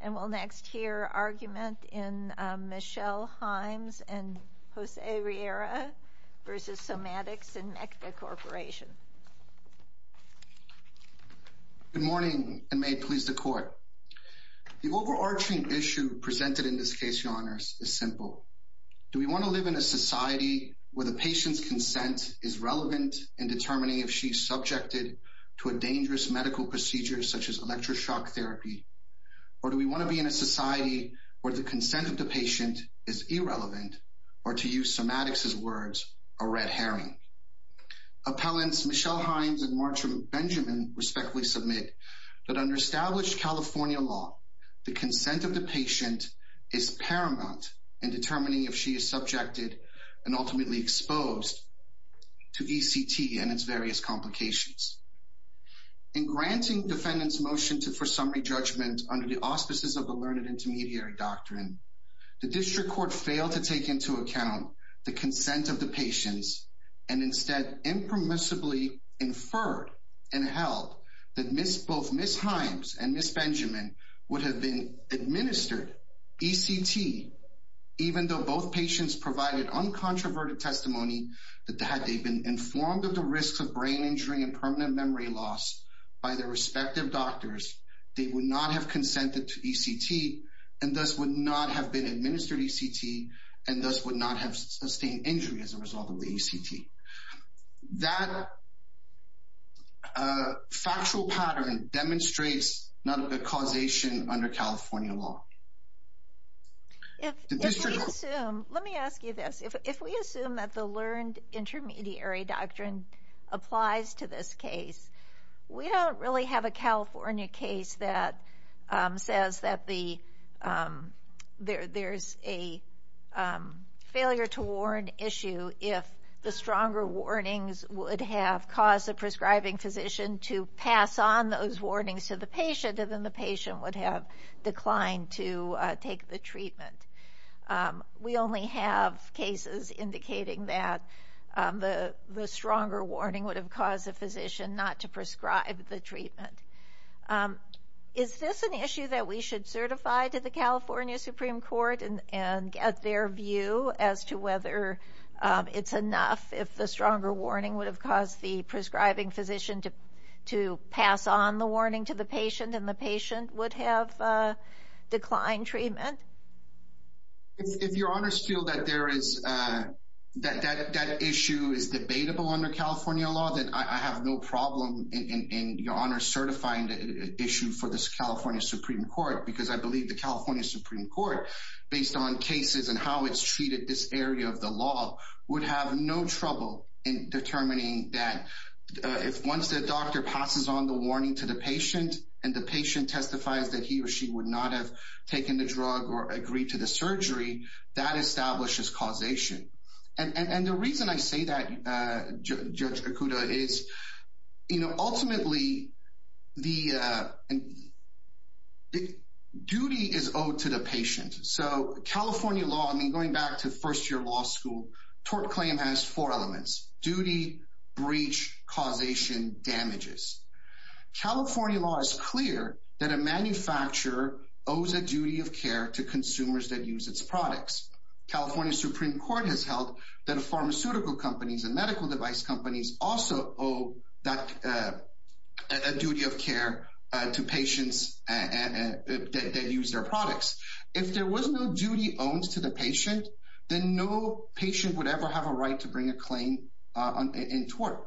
and we'll next hear argument in Michelle Himes and Jose Riera v. Somatics and Necta Corporation. Good morning and may it please the court. The overarching issue presented in this case, your honors, is simple. Do we want to live in a society where the patient's consent is relevant in determining if she's subjected to a dangerous medical procedure such as electroshock therapy or do we want to be in a society where the consent of the patient is irrelevant or to use Somatics' words, a red herring. Appellants Michelle Hines and Marcia Benjamin respectfully submit that under established California law, the consent of the patient is paramount in determining if she is subjected and ultimately exposed to ECT and its various complications. In granting defendant's motion to for summary judgment under the auspices of the learned intermediary doctrine, the district court failed to take into account the consent of the patients and instead impermissibly inferred and held that both Ms. Himes and Ms. Benjamin would have been administered ECT even though both patients provided uncontroverted testimony that had they been informed of the risks of brain injury and permanent memory loss by their respective doctors, they would not have consented to ECT and thus would not have been administered ECT and thus would not have sustained injury as a result of the ECT. That factual pattern demonstrates not a causation under California law. If we assume, let me ask you this, if we assume that the learned intermediary doctrine applies to this case, we don't really have a California case that says that there's a failure to warn issue if the stronger warnings would have caused the prescribing physician to take the treatment. We only have cases indicating that the stronger warning would have caused the physician not to prescribe the treatment. Is this an issue that we should certify to the California Supreme Court and get their view as to whether it's enough if the stronger warning would have caused the prescribing physician to pass on the warning to the patient and the patient would have declined treatment? If your honors feel that that issue is debatable under California law, then I have no problem in your honor certifying the issue for this California Supreme Court because I believe the California Supreme Court, based on cases and how it's treated this area of the law, would have no trouble in determining that if once the doctor passes on the warning to the patient and the patient testifies that he or she would not have taken the drug or agreed to the surgery, that establishes causation. And the reason I say that, Judge Okuda, is ultimately the duty is owed to the patient. So California law, I mean going back to first year law school, tort claim has four elements, duty, breach, causation, damages. California law is clear that a manufacturer owes a duty of care to consumers that use its products. California Supreme Court has held that pharmaceutical companies and medical device companies also owe a duty of care to patients that use their products. If there was no duty owned to the patient, then no patient would ever have a right to bring a claim in tort.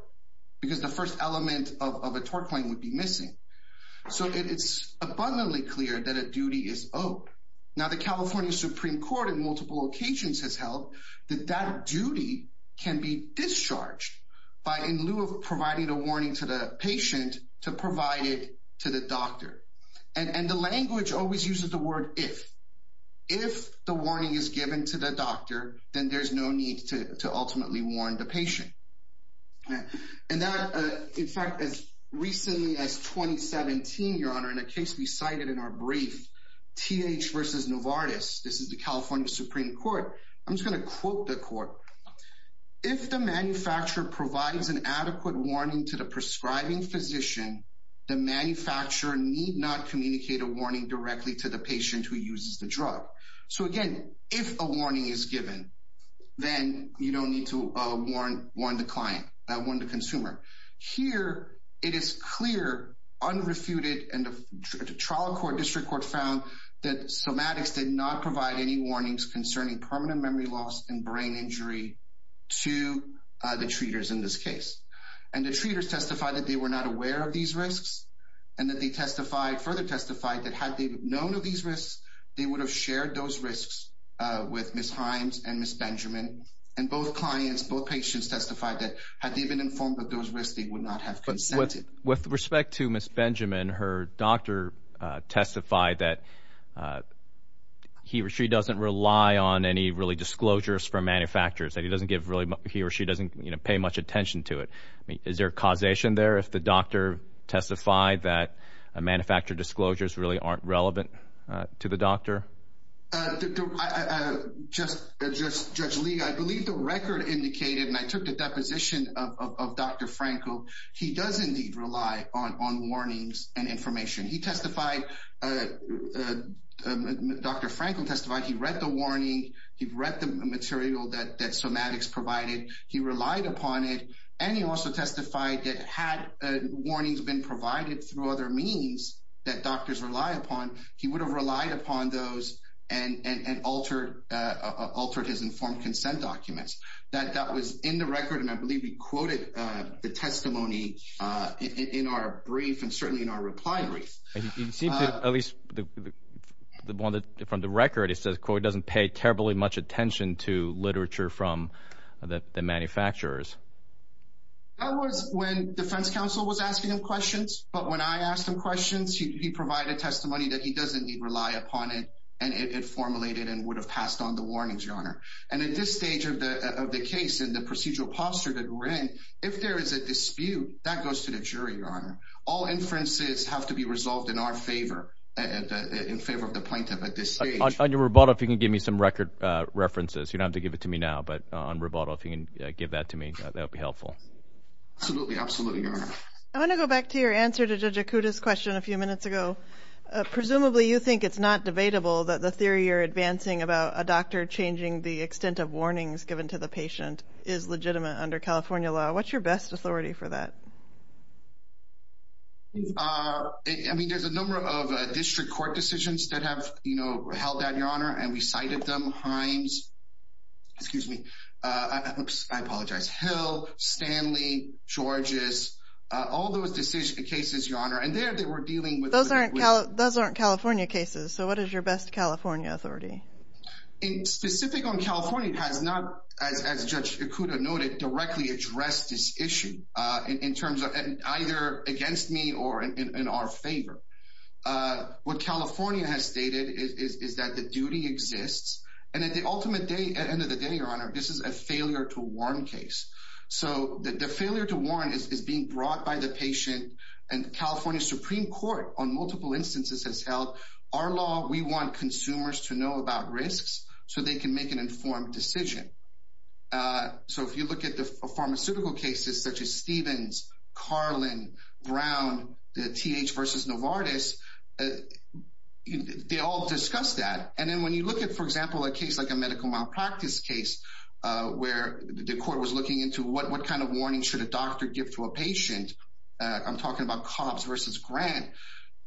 Because the first element of a tort claim would be missing. So it's abundantly clear that a duty is owed. Now the California Supreme Court in multiple occasions has held that that duty can be discharged by, in lieu of providing a warning to the patient, to provide it to the doctor. And the language always uses the word if. If the warning is given to the doctor, then there's no to ultimately warn the patient. And that, in fact, as recently as 2017, Your Honor, in a case we cited in our brief, TH versus Novartis, this is the California Supreme Court. I'm just going to quote the court. If the manufacturer provides an adequate warning to the prescribing physician, the manufacturer need not communicate a warning directly to the patient who uses the drug. So again, if a warning is given, then you don't need to warn the consumer. Here, it is clear, unrefuted, and the trial court, district court, found that Somatics did not provide any warnings concerning permanent memory loss and brain injury to the treaters in this case. And the treaters testified that they were not aware of these risks, and that they testified, further testified, that had they known of these risks, they would have shared those risks with Ms. Himes and Ms. Benjamin. And both clients, both patients testified that had they been informed of those risks, they would not have consented. With respect to Ms. Benjamin, her doctor testified that he or she doesn't rely on any really disclosures from manufacturers, that he or she doesn't pay much attention to it. Is there causation there if the doctor testified that a manufacturer disclosures really aren't relevant to the doctor? Just, Judge Lee, I believe the record indicated, and I took the deposition of Dr. Franco, he does indeed rely on warnings and information. He testified, Dr. Franco testified, he read the warning, he read the material that Somatics provided, he relied upon it, and he also testified that had warnings been provided through other means that doctors rely upon, he would have relied upon those and altered his informed consent documents. That was in the record, and I believe he quoted the testimony in our brief, and certainly in our reply brief. It seems that, at least, from the record, it says Coy doesn't pay terribly much attention to literature from the manufacturers. That was when defense counsel was asking him questions, but when I asked him questions, he provided testimony that he doesn't rely upon it, and it formulated and would have passed on the warnings, Your Honor. And at this stage of the case and the procedural posture that we're in, if there is a dispute, that goes to the jury, Your Honor. All inferences have to be resolved in our favor, in favor of the plaintiff at this stage. On your rebuttal, if you can give me some record references, you don't have to give it to me now, but on rebuttal, if you can give that to me, that would be helpful. Absolutely. Absolutely, Your Honor. I want to go back to your answer to Judge Akuta's question a few minutes ago. Presumably, you think it's not debatable that the theory you're advancing about a doctor changing the extent of warnings given to the patient is legitimate under California law. What's your best authority for that? I mean, there's a number of district court decisions that have, you know, held that, Your Honor, and we cited them. Himes, excuse me, I apologize, Hill, Stanley, Georges, all those decision cases, Your Honor, and there they were dealing with- Those aren't California cases, so what is your best California authority? Specific on California, it has not, as Judge Akuta noted, directly addressed this issue in terms of either against me or in our favor. What California has stated is that the duty exists, and at the ultimate end of the day, Your Honor, this is a failure to warn case. So the failure to warn is being brought by the patient, and California Supreme Court, on multiple instances, has held our law, we want consumers to know about risks so they can make an informed decision. So if you look at the pharmaceutical cases such as Stevens, Carlin, Brown, the TH versus Novartis, they all discuss that. And then when you look at, for example, a case like a medical malpractice case where the court was looking into what kind of warning should a doctor give to a patient, I'm talking about Cobbs versus Grant,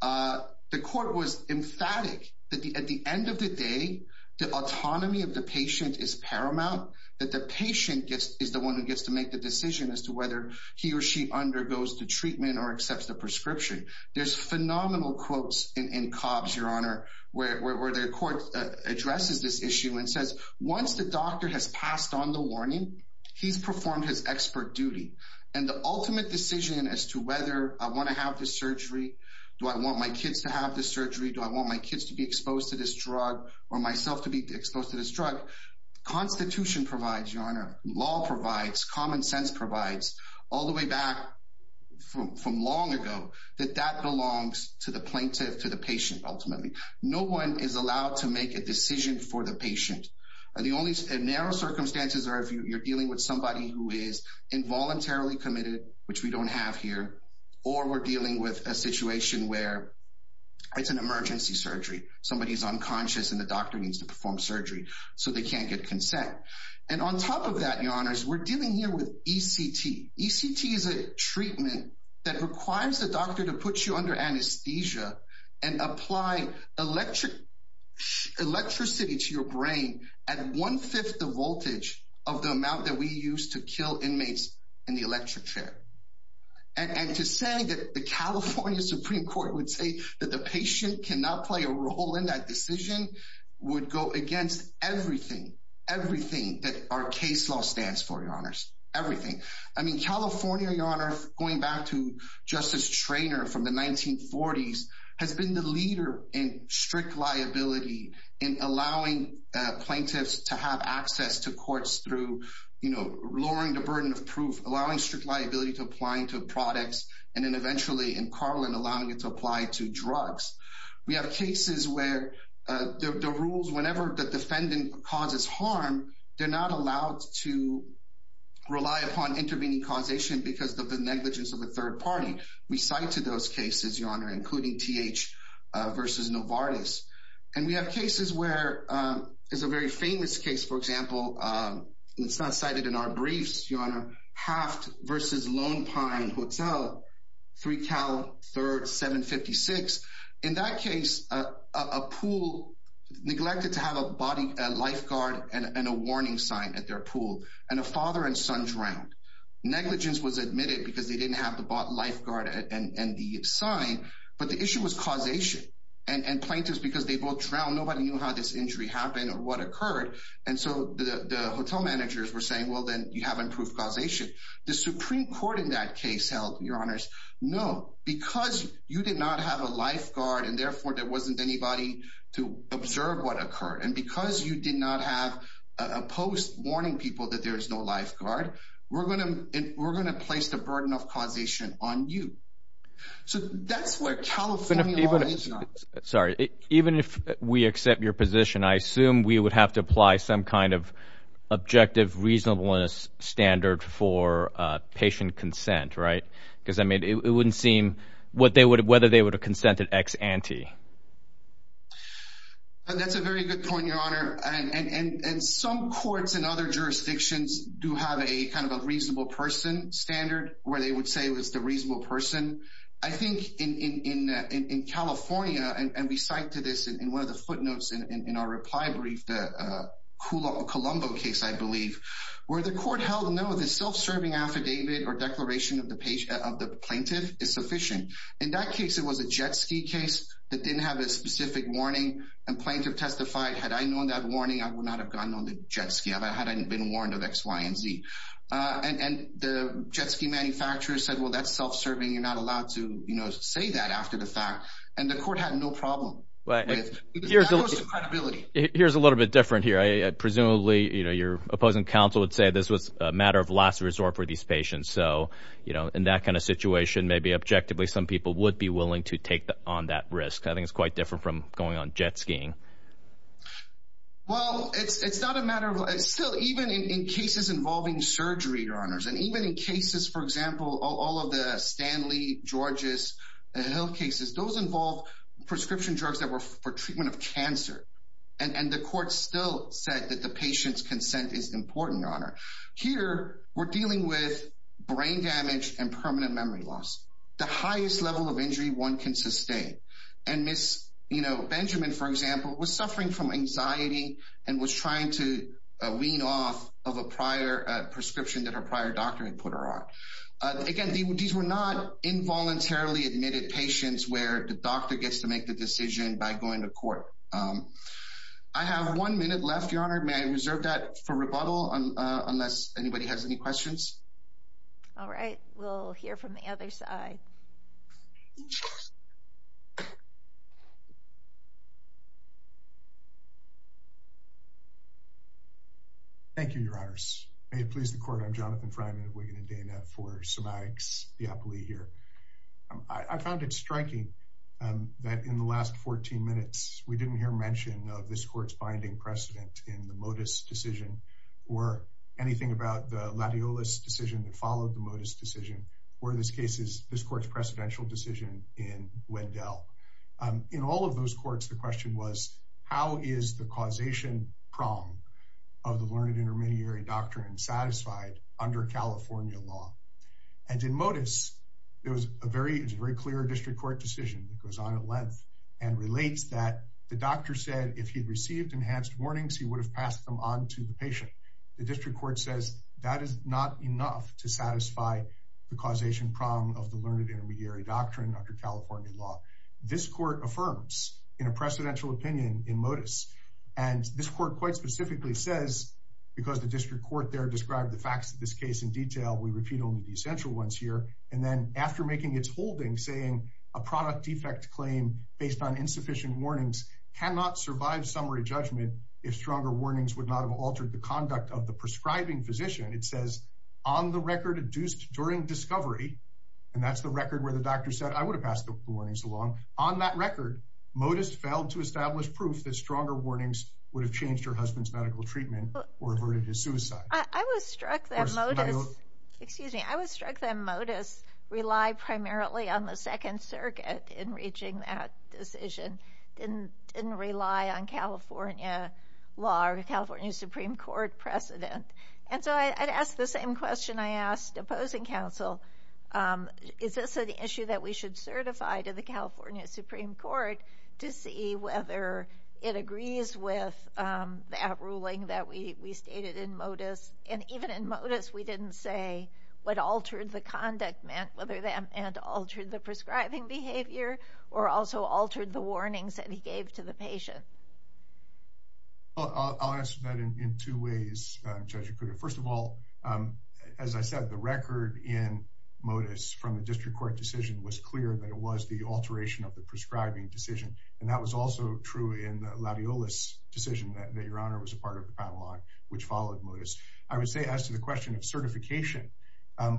the court was emphatic that at the end of the day, the autonomy of the patient is paramount, that the patient is the one who gets to make the decision as to whether he or she undergoes the treatment or accepts the prescription. There's phenomenal quotes in Cobbs, Your Honor, where the court addresses this issue and says, once the doctor has passed on the warning, he's performed his expert duty. And the ultimate decision as to whether I want to have the surgery, do I want my kids to have the surgery, do I want my kids to be exposed to this drug, or myself to be exposed to this drug. Constitution provides, Your Honor, law provides, common sense provides, all the way back from long ago, that that belongs to the plaintiff, to the patient, ultimately. No one is allowed to make a decision for the patient. And the only narrow circumstances are if you're dealing with somebody who is involuntarily committed, which we don't have here, or we're dealing with a situation where it's an emergency surgery, somebody's unconscious and the doctor needs to perform surgery, so they can't get consent. And on top of that, Your Honors, we're dealing here with ECT. ECT is a treatment that requires the doctor to put you under anesthesia and apply electricity to your brain at one-fifth the voltage of the amount that we use to kill inmates in the electric chair. And to say that the California Supreme Court would say that the patient cannot play a role in that decision would go against everything, everything that our case law stands for, Your Honors, everything. I mean, California, Your Honor, going back to Justice Treanor from the 1940s, has been the leader in strict liability, in allowing plaintiffs to have access to courts through, you know, lowering the burden of proof, allowing strict liability to applying to products, and then eventually in Carlin, allowing it to apply to drugs. We have cases where the rules, whenever the defendant causes harm, they're not allowed to rely upon intervening causation because of the negligence of a third party. We cite to those cases, Your Honor, including TH versus Novartis. And we have cases where, there's a very famous case, for example, it's not cited in our briefs, Your Honor, Haft versus Lone Pine Hotel, 3 Cal 3rd 756. In that case, a pool neglected to have a lifeguard and a warning sign at their pool, and a father and son drank. Negligence was admitted because they didn't have the lifeguard and the sign, but the and plaintiffs, because they both drowned, nobody knew how this injury happened or what occurred. And so the hotel managers were saying, well, then you haven't proved causation. The Supreme Court in that case held, Your Honors, no, because you did not have a lifeguard and therefore there wasn't anybody to observe what occurred. And because you did not have a post warning people that there is no lifeguard, we're going to place the burden of causation on you. So that's where California law is not... Sorry, even if we accept your position, I assume we would have to apply some kind of objective reasonableness standard for patient consent, right? Because I mean, it wouldn't seem whether they would have consented ex ante. And that's a very good point, Your Honor. And some courts in other jurisdictions do have a reasonable person standard where they would say it was the reasonable person. I think in California, and we cite to this in one of the footnotes in our reply brief, the Colombo case, I believe, where the court held, no, the self-serving affidavit or declaration of the plaintiff is sufficient. In that case, it was a jet ski case that didn't have a specific warning and plaintiff testified, had I known that warning, I would not have gone on the jet ski, had I been warned of X, Y, and Z. And the jet ski manufacturer said, well, that's self-serving, you're not allowed to say that after the fact. And the court had no problem with credibility. Here's a little bit different here. Presumably, your opposing counsel would say this was a matter of last resort for these patients. So in that kind of situation, maybe objectively, some people would be willing to take on that risk. I think it's quite different from going on jet skiing. Well, it's not a matter of, it's still, even in cases involving surgery, your honors, and even in cases, for example, all of the Stanley, George's, Hill cases, those involve prescription drugs that were for treatment of cancer. And the court still said that the patient's consent is important, your honor. Here, we're dealing with brain damage and permanent memory loss, the highest level of injury one can sustain. And Ms. Benjamin, for example, was suffering from anxiety and was trying to wean off of a prior prescription that her prior doctor had put her on. Again, these were not involuntarily admitted patients where the doctor gets to make the decision by going to court. I have one minute left, your honor. May I reserve that for rebuttal unless anybody has any questions? All right. We'll hear from the other side. Thank you, your honors. May it please the court. I'm Jonathan Fryman of Wigan and Dana for Somatics Diapoli here. I found it striking that in the last 14 minutes, we didn't hear mention of this court's binding precedent in the Motis decision or anything about the Latiolus decision that followed the Motis decision, or in this case, this court's precedential decision in Wendell. In all of those courts, the question was, how is the causation prong of the learned intermediary doctrine satisfied under California law? And in Motis, it was a very clear district decision that goes on at length and relates that the doctor said if he'd received enhanced warnings, he would have passed them on to the patient. The district court says that is not enough to satisfy the causation prong of the learned intermediary doctrine under California law. This court affirms in a precedential opinion in Motis. And this court quite specifically says, because the district court there described the facts of this case in detail, we repeat only the essential ones here. And then after making its holding, saying a product defect claim based on insufficient warnings cannot survive summary judgment if stronger warnings would not have altered the conduct of the prescribing physician. It says on the record adduced during discovery, and that's the record where the doctor said, I would have passed the warnings along. On that record, Motis failed to establish proof that stronger warnings would have changed her husband's treatment or averted his suicide. I was struck that Motis relied primarily on the Second Circuit in reaching that decision, didn't rely on California law or the California Supreme Court precedent. And so I'd ask the same question I asked opposing counsel. Is this an issue that we should certify to the California Supreme Court to see whether it agrees with that rule that we stated in Motis? And even in Motis, we didn't say what altered the conduct meant, whether that meant altered the prescribing behavior or also altered the warnings that he gave to the patient. I'll answer that in two ways, Judge Okuda. First of all, as I said, the record in Motis from the district court decision was clear that it was the alteration of the prescribing decision. And that was also true in the Laviolus decision that your honor was a part of the panel on, which followed Motis. I would say as to the question of certification,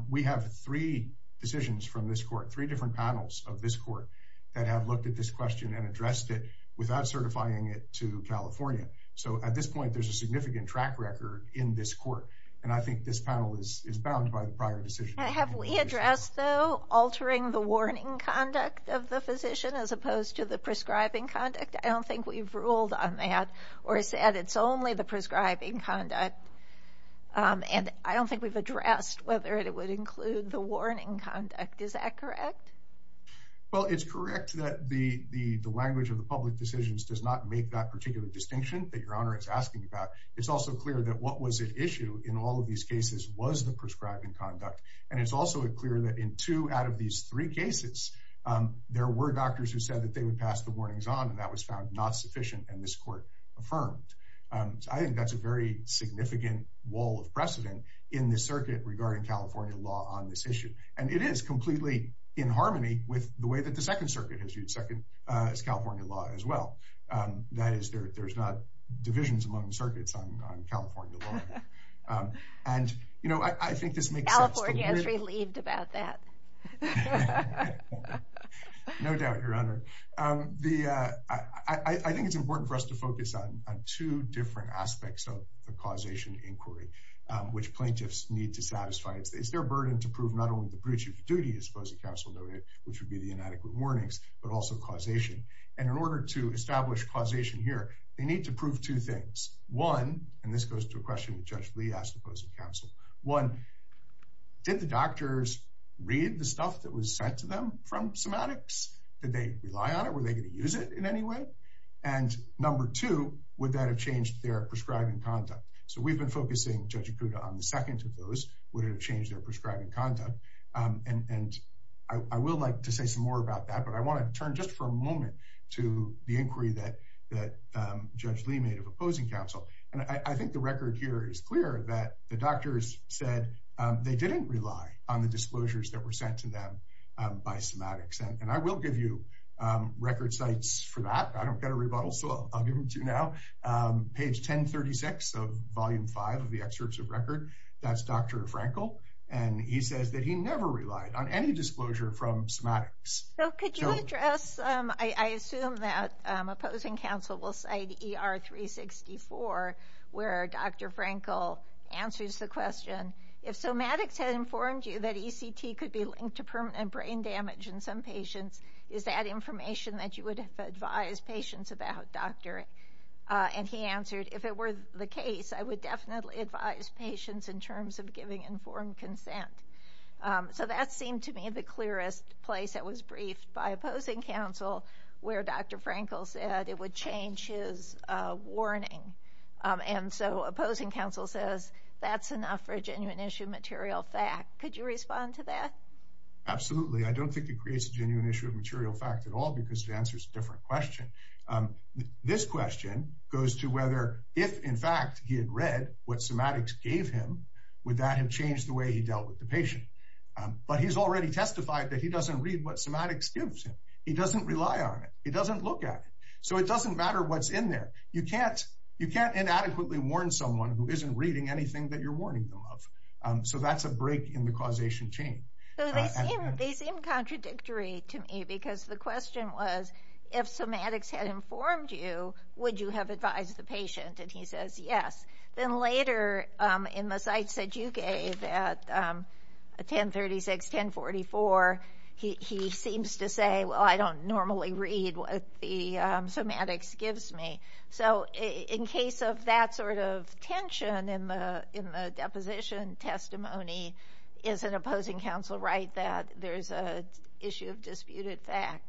we have three decisions from this court, three different panels of this court that have looked at this question and addressed it without certifying it to California. So at this point, there's a significant track record in this court. And I think this panel is bound by the prior decision. Have we addressed though, altering the warning conduct of the physician as opposed to prescribing conduct? I don't think we've ruled on that or said it's only the prescribing conduct. And I don't think we've addressed whether it would include the warning conduct. Is that correct? Well, it's correct that the language of the public decisions does not make that particular distinction that your honor is asking about. It's also clear that what was at issue in all of these cases was the prescribing conduct. And it's also clear that in two out of these three cases, there were doctors who said that they would pass the warnings on and that was found not sufficient and this court affirmed. I think that's a very significant wall of precedent in the circuit regarding California law on this issue. And it is completely in harmony with the way that the second circuit has used California law as well. That is there's not divisions among circuits on California law. And I think this makes sense. California is relieved about that. No doubt, your honor. I think it's important for us to focus on two different aspects of the causation inquiry, which plaintiffs need to satisfy. It's their burden to prove not only the breach of duty as opposing counsel noted, which would be the inadequate warnings, but also causation. And in order to establish causation here, they need to prove two things. One, and this goes to a question that Judge Lee asked opposing counsel. One, did the doctors read the semantics? Did they rely on it? Were they going to use it in any way? And number two, would that have changed their prescribing conduct? So we've been focusing Judge Ikuda on the second of those, would it have changed their prescribing conduct? And I will like to say some more about that, but I want to turn just for a moment to the inquiry that Judge Lee made of opposing counsel. And I think the record here is clear that the doctors said they didn't rely on the disclosures that were sent to them by semantics. And I will give you record sites for that. I don't get a rebuttal, so I'll give them to you now. Page 1036 of volume five of the excerpts of record, that's Dr. Frankel. And he says that he never relied on any disclosure from semantics. So could you address, I assume that opposing counsel will cite ER 364, where Dr. Frankel answers the question, if semantics had informed you that ECT could be linked to permanent brain damage in some patients, is that information that you would advise patients about, doctor? And he answered, if it were the case, I would definitely advise patients in terms of giving informed consent. So that seemed to me the clearest place that was briefed by opposing counsel, where Dr. Frankel said it would change his warning. And so opposing counsel says, that's enough for a genuine issue of material fact. Could you respond to that? Absolutely. I don't think it creates a genuine issue of material fact at all, because it answers a different question. This question goes to whether if in fact he had read what semantics gave him, would that have changed the way he dealt with the patient? But he's already testified that he doesn't read what semantics gives him. He doesn't rely on it. He doesn't look at it. So it doesn't matter what's in there. You can't inadequately warn someone who isn't reading anything that you're warning them of. So that's a break in the causation chain. They seem contradictory to me, because the question was, if semantics had informed you, would you have advised the patient? And he says, yes. Then later in the sites that you gave at 1036, 1044, he seems to say, well, I don't normally read what the semantics gives me. So in case of that sort of tension in the deposition testimony, is an opposing counsel right that there's a issue of disputed fact?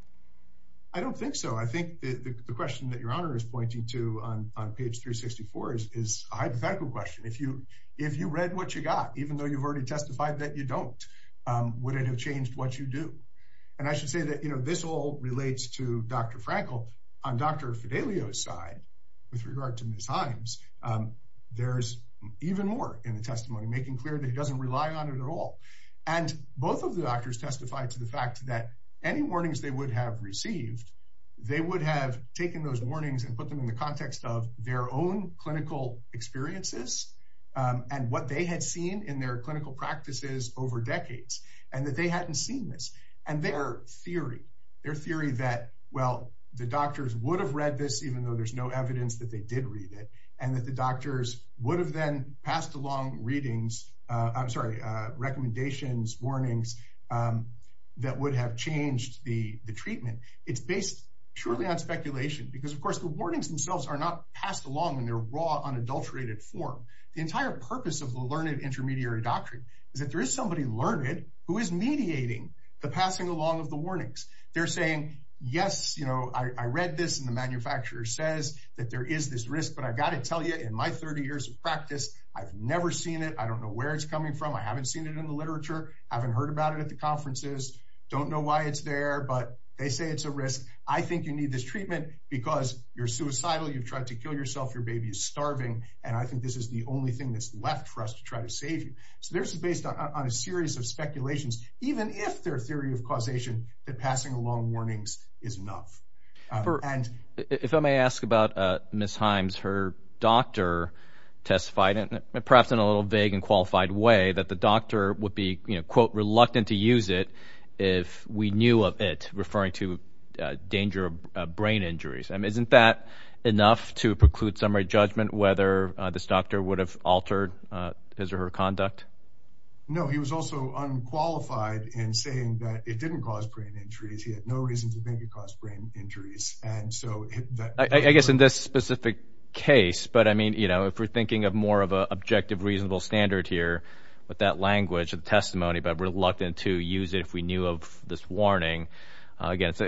I don't think so. I think the question that Your Honor is pointing to on page 364 is a hypothetical question. If you read what you got, even though you've already testified that you don't, would it have changed what you do? And I should say that this all relates to Dr. Frankel on Dr. Fidelio's with regard to Ms. Himes. There's even more in the testimony, making clear that he doesn't rely on it at all. And both of the doctors testified to the fact that any warnings they would have received, they would have taken those warnings and put them in the context of their own clinical experiences and what they had seen in their clinical practices over decades, and that they hadn't seen this. And their theory, their theory that, well, the doctors would have read this, even though there's no evidence that they did read it, and that the doctors would have then passed along readings, I'm sorry, recommendations, warnings that would have changed the treatment. It's based purely on speculation, because of course the warnings themselves are not passed along in their raw, unadulterated form. The entire purpose of the learned intermediary doctrine is that there is somebody learned who is mediating the passing along of warnings. They're saying, yes, you know, I read this and the manufacturer says that there is this risk, but I've got to tell you in my 30 years of practice, I've never seen it. I don't know where it's coming from. I haven't seen it in the literature. I haven't heard about it at the conferences. Don't know why it's there, but they say it's a risk. I think you need this treatment because you're suicidal. You've tried to kill yourself. Your baby is starving. And I think this is the only thing that's left for us to try to save you. So this is based on a series of that passing along warnings is enough. If I may ask about Ms. Himes, her doctor testified, perhaps in a little vague and qualified way, that the doctor would be, you know, quote, reluctant to use it if we knew of it, referring to danger of brain injuries. I mean, isn't that enough to preclude summary judgment whether this doctor would have altered his or her conduct? No, he was also unqualified in saying that it didn't cause brain injuries. He had no reason to think it caused brain injuries. And so I guess in this specific case, but I mean, you know, if we're thinking of more of a objective, reasonable standard here with that language of testimony, but reluctant to use it if we knew of this warning, again, it's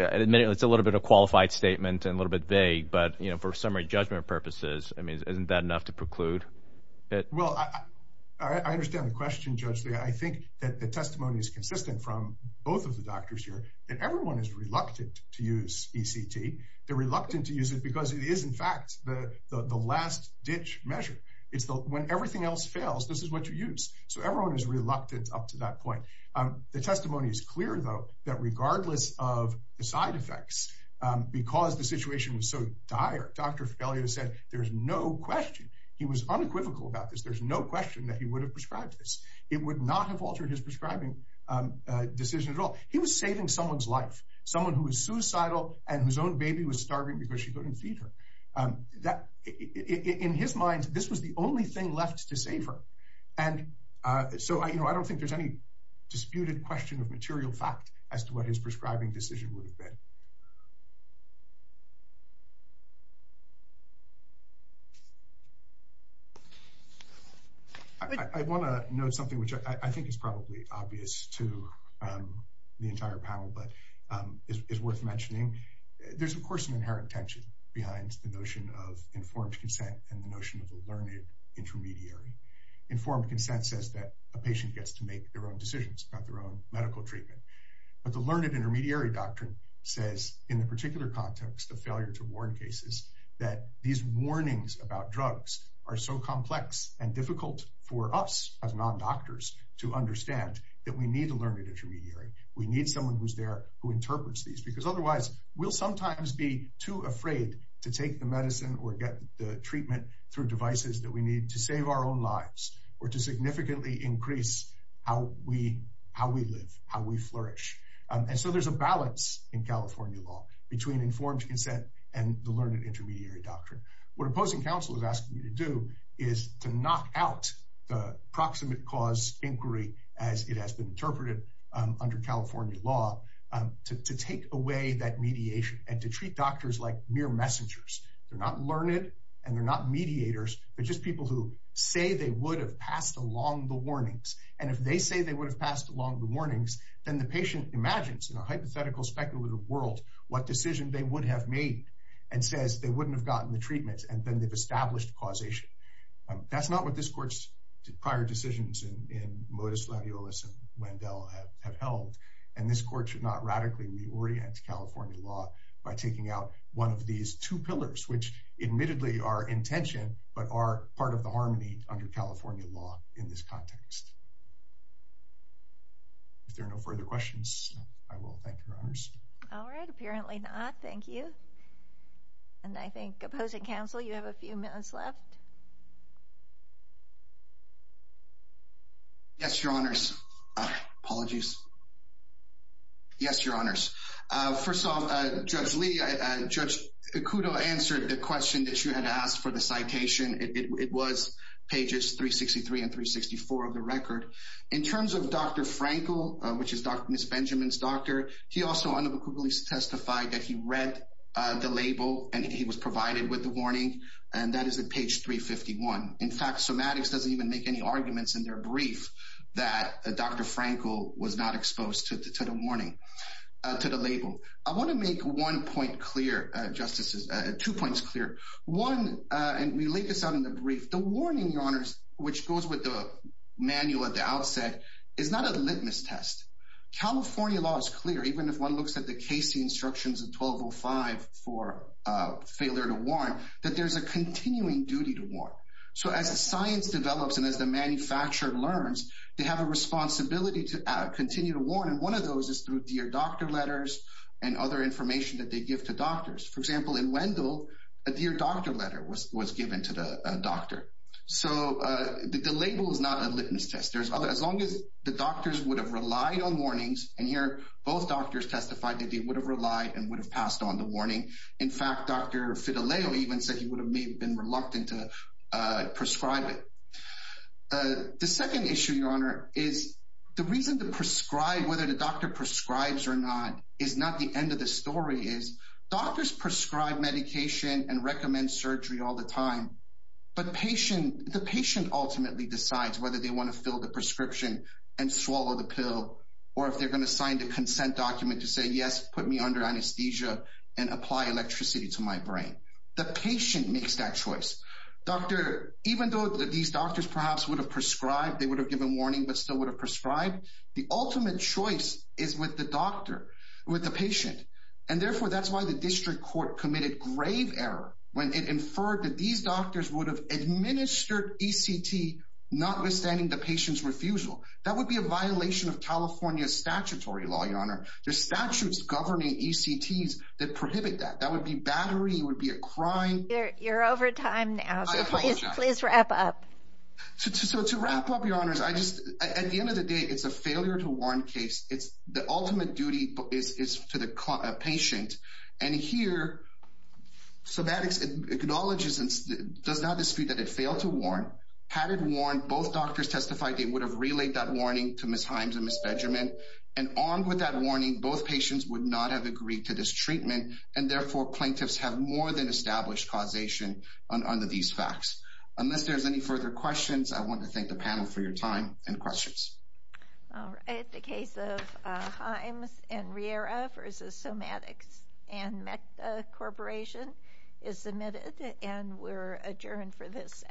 a little bit of qualified statement and a little bit vague, but you know, for summary judgment purposes, I mean, isn't that enough to preclude Well, I understand the question, Judge Lee. I think that the testimony is consistent from both of the doctors here that everyone is reluctant to use ECT. They're reluctant to use it because it is in fact, the last ditch measure. It's the when everything else fails, this is what you use. So everyone is reluctant up to that point. The testimony is clear, though, that regardless of the side effects, because the situation was so dire, Dr. Fagelio said, there's no question he was unequivocal about this. There's no question that he would have prescribed this, it would not have altered his prescribing decision at all. He was saving someone's life, someone who was suicidal, and whose own baby was starving because she couldn't feed her. That in his mind, this was the only thing left to save her. And so I don't think there's any disputed question of material fact as to what his prescribing decision would have been. I want to note something which I think is probably obvious to the entire panel, but is worth mentioning. There's, of course, an inherent tension behind the notion of informed consent and the notion of a learned intermediary. Informed consent says that a patient gets to make their own decisions about their own medical treatment. But the learned intermediary doctrine says, in the particular context of failure to warn cases, that these warnings about drugs are so complex and difficult for us as non-doctors to understand that we need a learned intermediary. We need someone who's there who interprets these, because otherwise, we'll sometimes be too afraid to take the medicine or get the treatment through devices that we need to save our own lives, or to significantly increase how we live, how we flourish. And so there's a balance in California law between informed consent and the learned intermediary doctrine. What opposing counsel is asking you to do is to knock out the proximate cause inquiry, as it has been interpreted under California law, to take away that mediation and to treat doctors like mere messengers. They're not learned and they're not mediators. They're just people who say they would have passed along the warnings. And if they say they would have passed along the warnings, then the patient imagines, in a hypothetical speculative world, what decision they would have made, and says they wouldn't have gotten the treatment, and then they've established causation. That's not what this court's prior decisions in Modus Laviolus and Wendell have held. And this court should not radically reorient California law by taking out one of these two pillars, which admittedly are in tension, but are part of the harmony under California law in this context. If there are no further questions, I will thank your honors. All right, apparently not. Thank you. And I think opposing counsel, you have a few minutes left. Yes, your honors. Apologies. Yes, your honors. First off, Judge Lee, Judge Acudo answered the question that you had asked for the citation. It was pages 363 and 364 of the record. In terms of Dr. Frankel, which is Ms. Benjamin's doctor, he also unequivocally testified that he read the label and he was provided with the warning, and that is at page 351. In fact, somatics doesn't even make any arguments in their brief that Dr. Frankel was not exposed to the warning, to the label. I want to make one point clear, justices, two points clear. One, and we leave this out in the brief, the warning, your honors, which goes with the manual at the outset, is not a litmus test. California law is clear, even if one looks at the Casey instructions in 1205 for a failure to warn, that there's a continuing duty to warn. So as the science develops and as the manufacturer learns, they have a responsibility to continue to warn, and one of those is through dear doctor letters and other information that they give to doctors. For example, in Wendell, a dear doctor letter was given to the doctor. So the label is not litmus test. As long as the doctors would have relied on warnings, and here both doctors testified that they would have relied and would have passed on the warning. In fact, Dr. Fidelio even said he would have been reluctant to prescribe it. The second issue, your honor, is the reason to prescribe, whether the doctor prescribes or not, is not the end of the story, is doctors prescribe medication and recommend surgery all the time, but the patient ultimately decides whether they want to fill the prescription and swallow the pill, or if they're going to sign the consent document to say, yes, put me under anesthesia and apply electricity to my brain. The patient makes that choice. Doctor, even though these doctors perhaps would have prescribed, they would have given warning, but still would have prescribed, the ultimate choice is with the doctor, with the patient. And therefore, that's why the district court committed grave error when it inferred that these doctors would have administered ECT notwithstanding the patient's refusal. That would be a violation of California statutory law, your honor. There's statutes governing ECTs that prohibit that. That would be battery, it would be a crime. You're over time now, please wrap up. So to wrap up, your honors, I just, at the end of the day, it's a failure to acknowledge, does not dispute that it failed to warn. Had it warned, both doctors testified they would have relayed that warning to Ms. Himes and Ms. Benjamin, and armed with that warning, both patients would not have agreed to this treatment, and therefore plaintiffs have more than established causation under these facts. Unless there's any further questions, I want to thank the panel for your time and questions. All right, the case of Himes and Riera versus Somatics and MECTA Corporation is submitted, and we're adjourned for this session.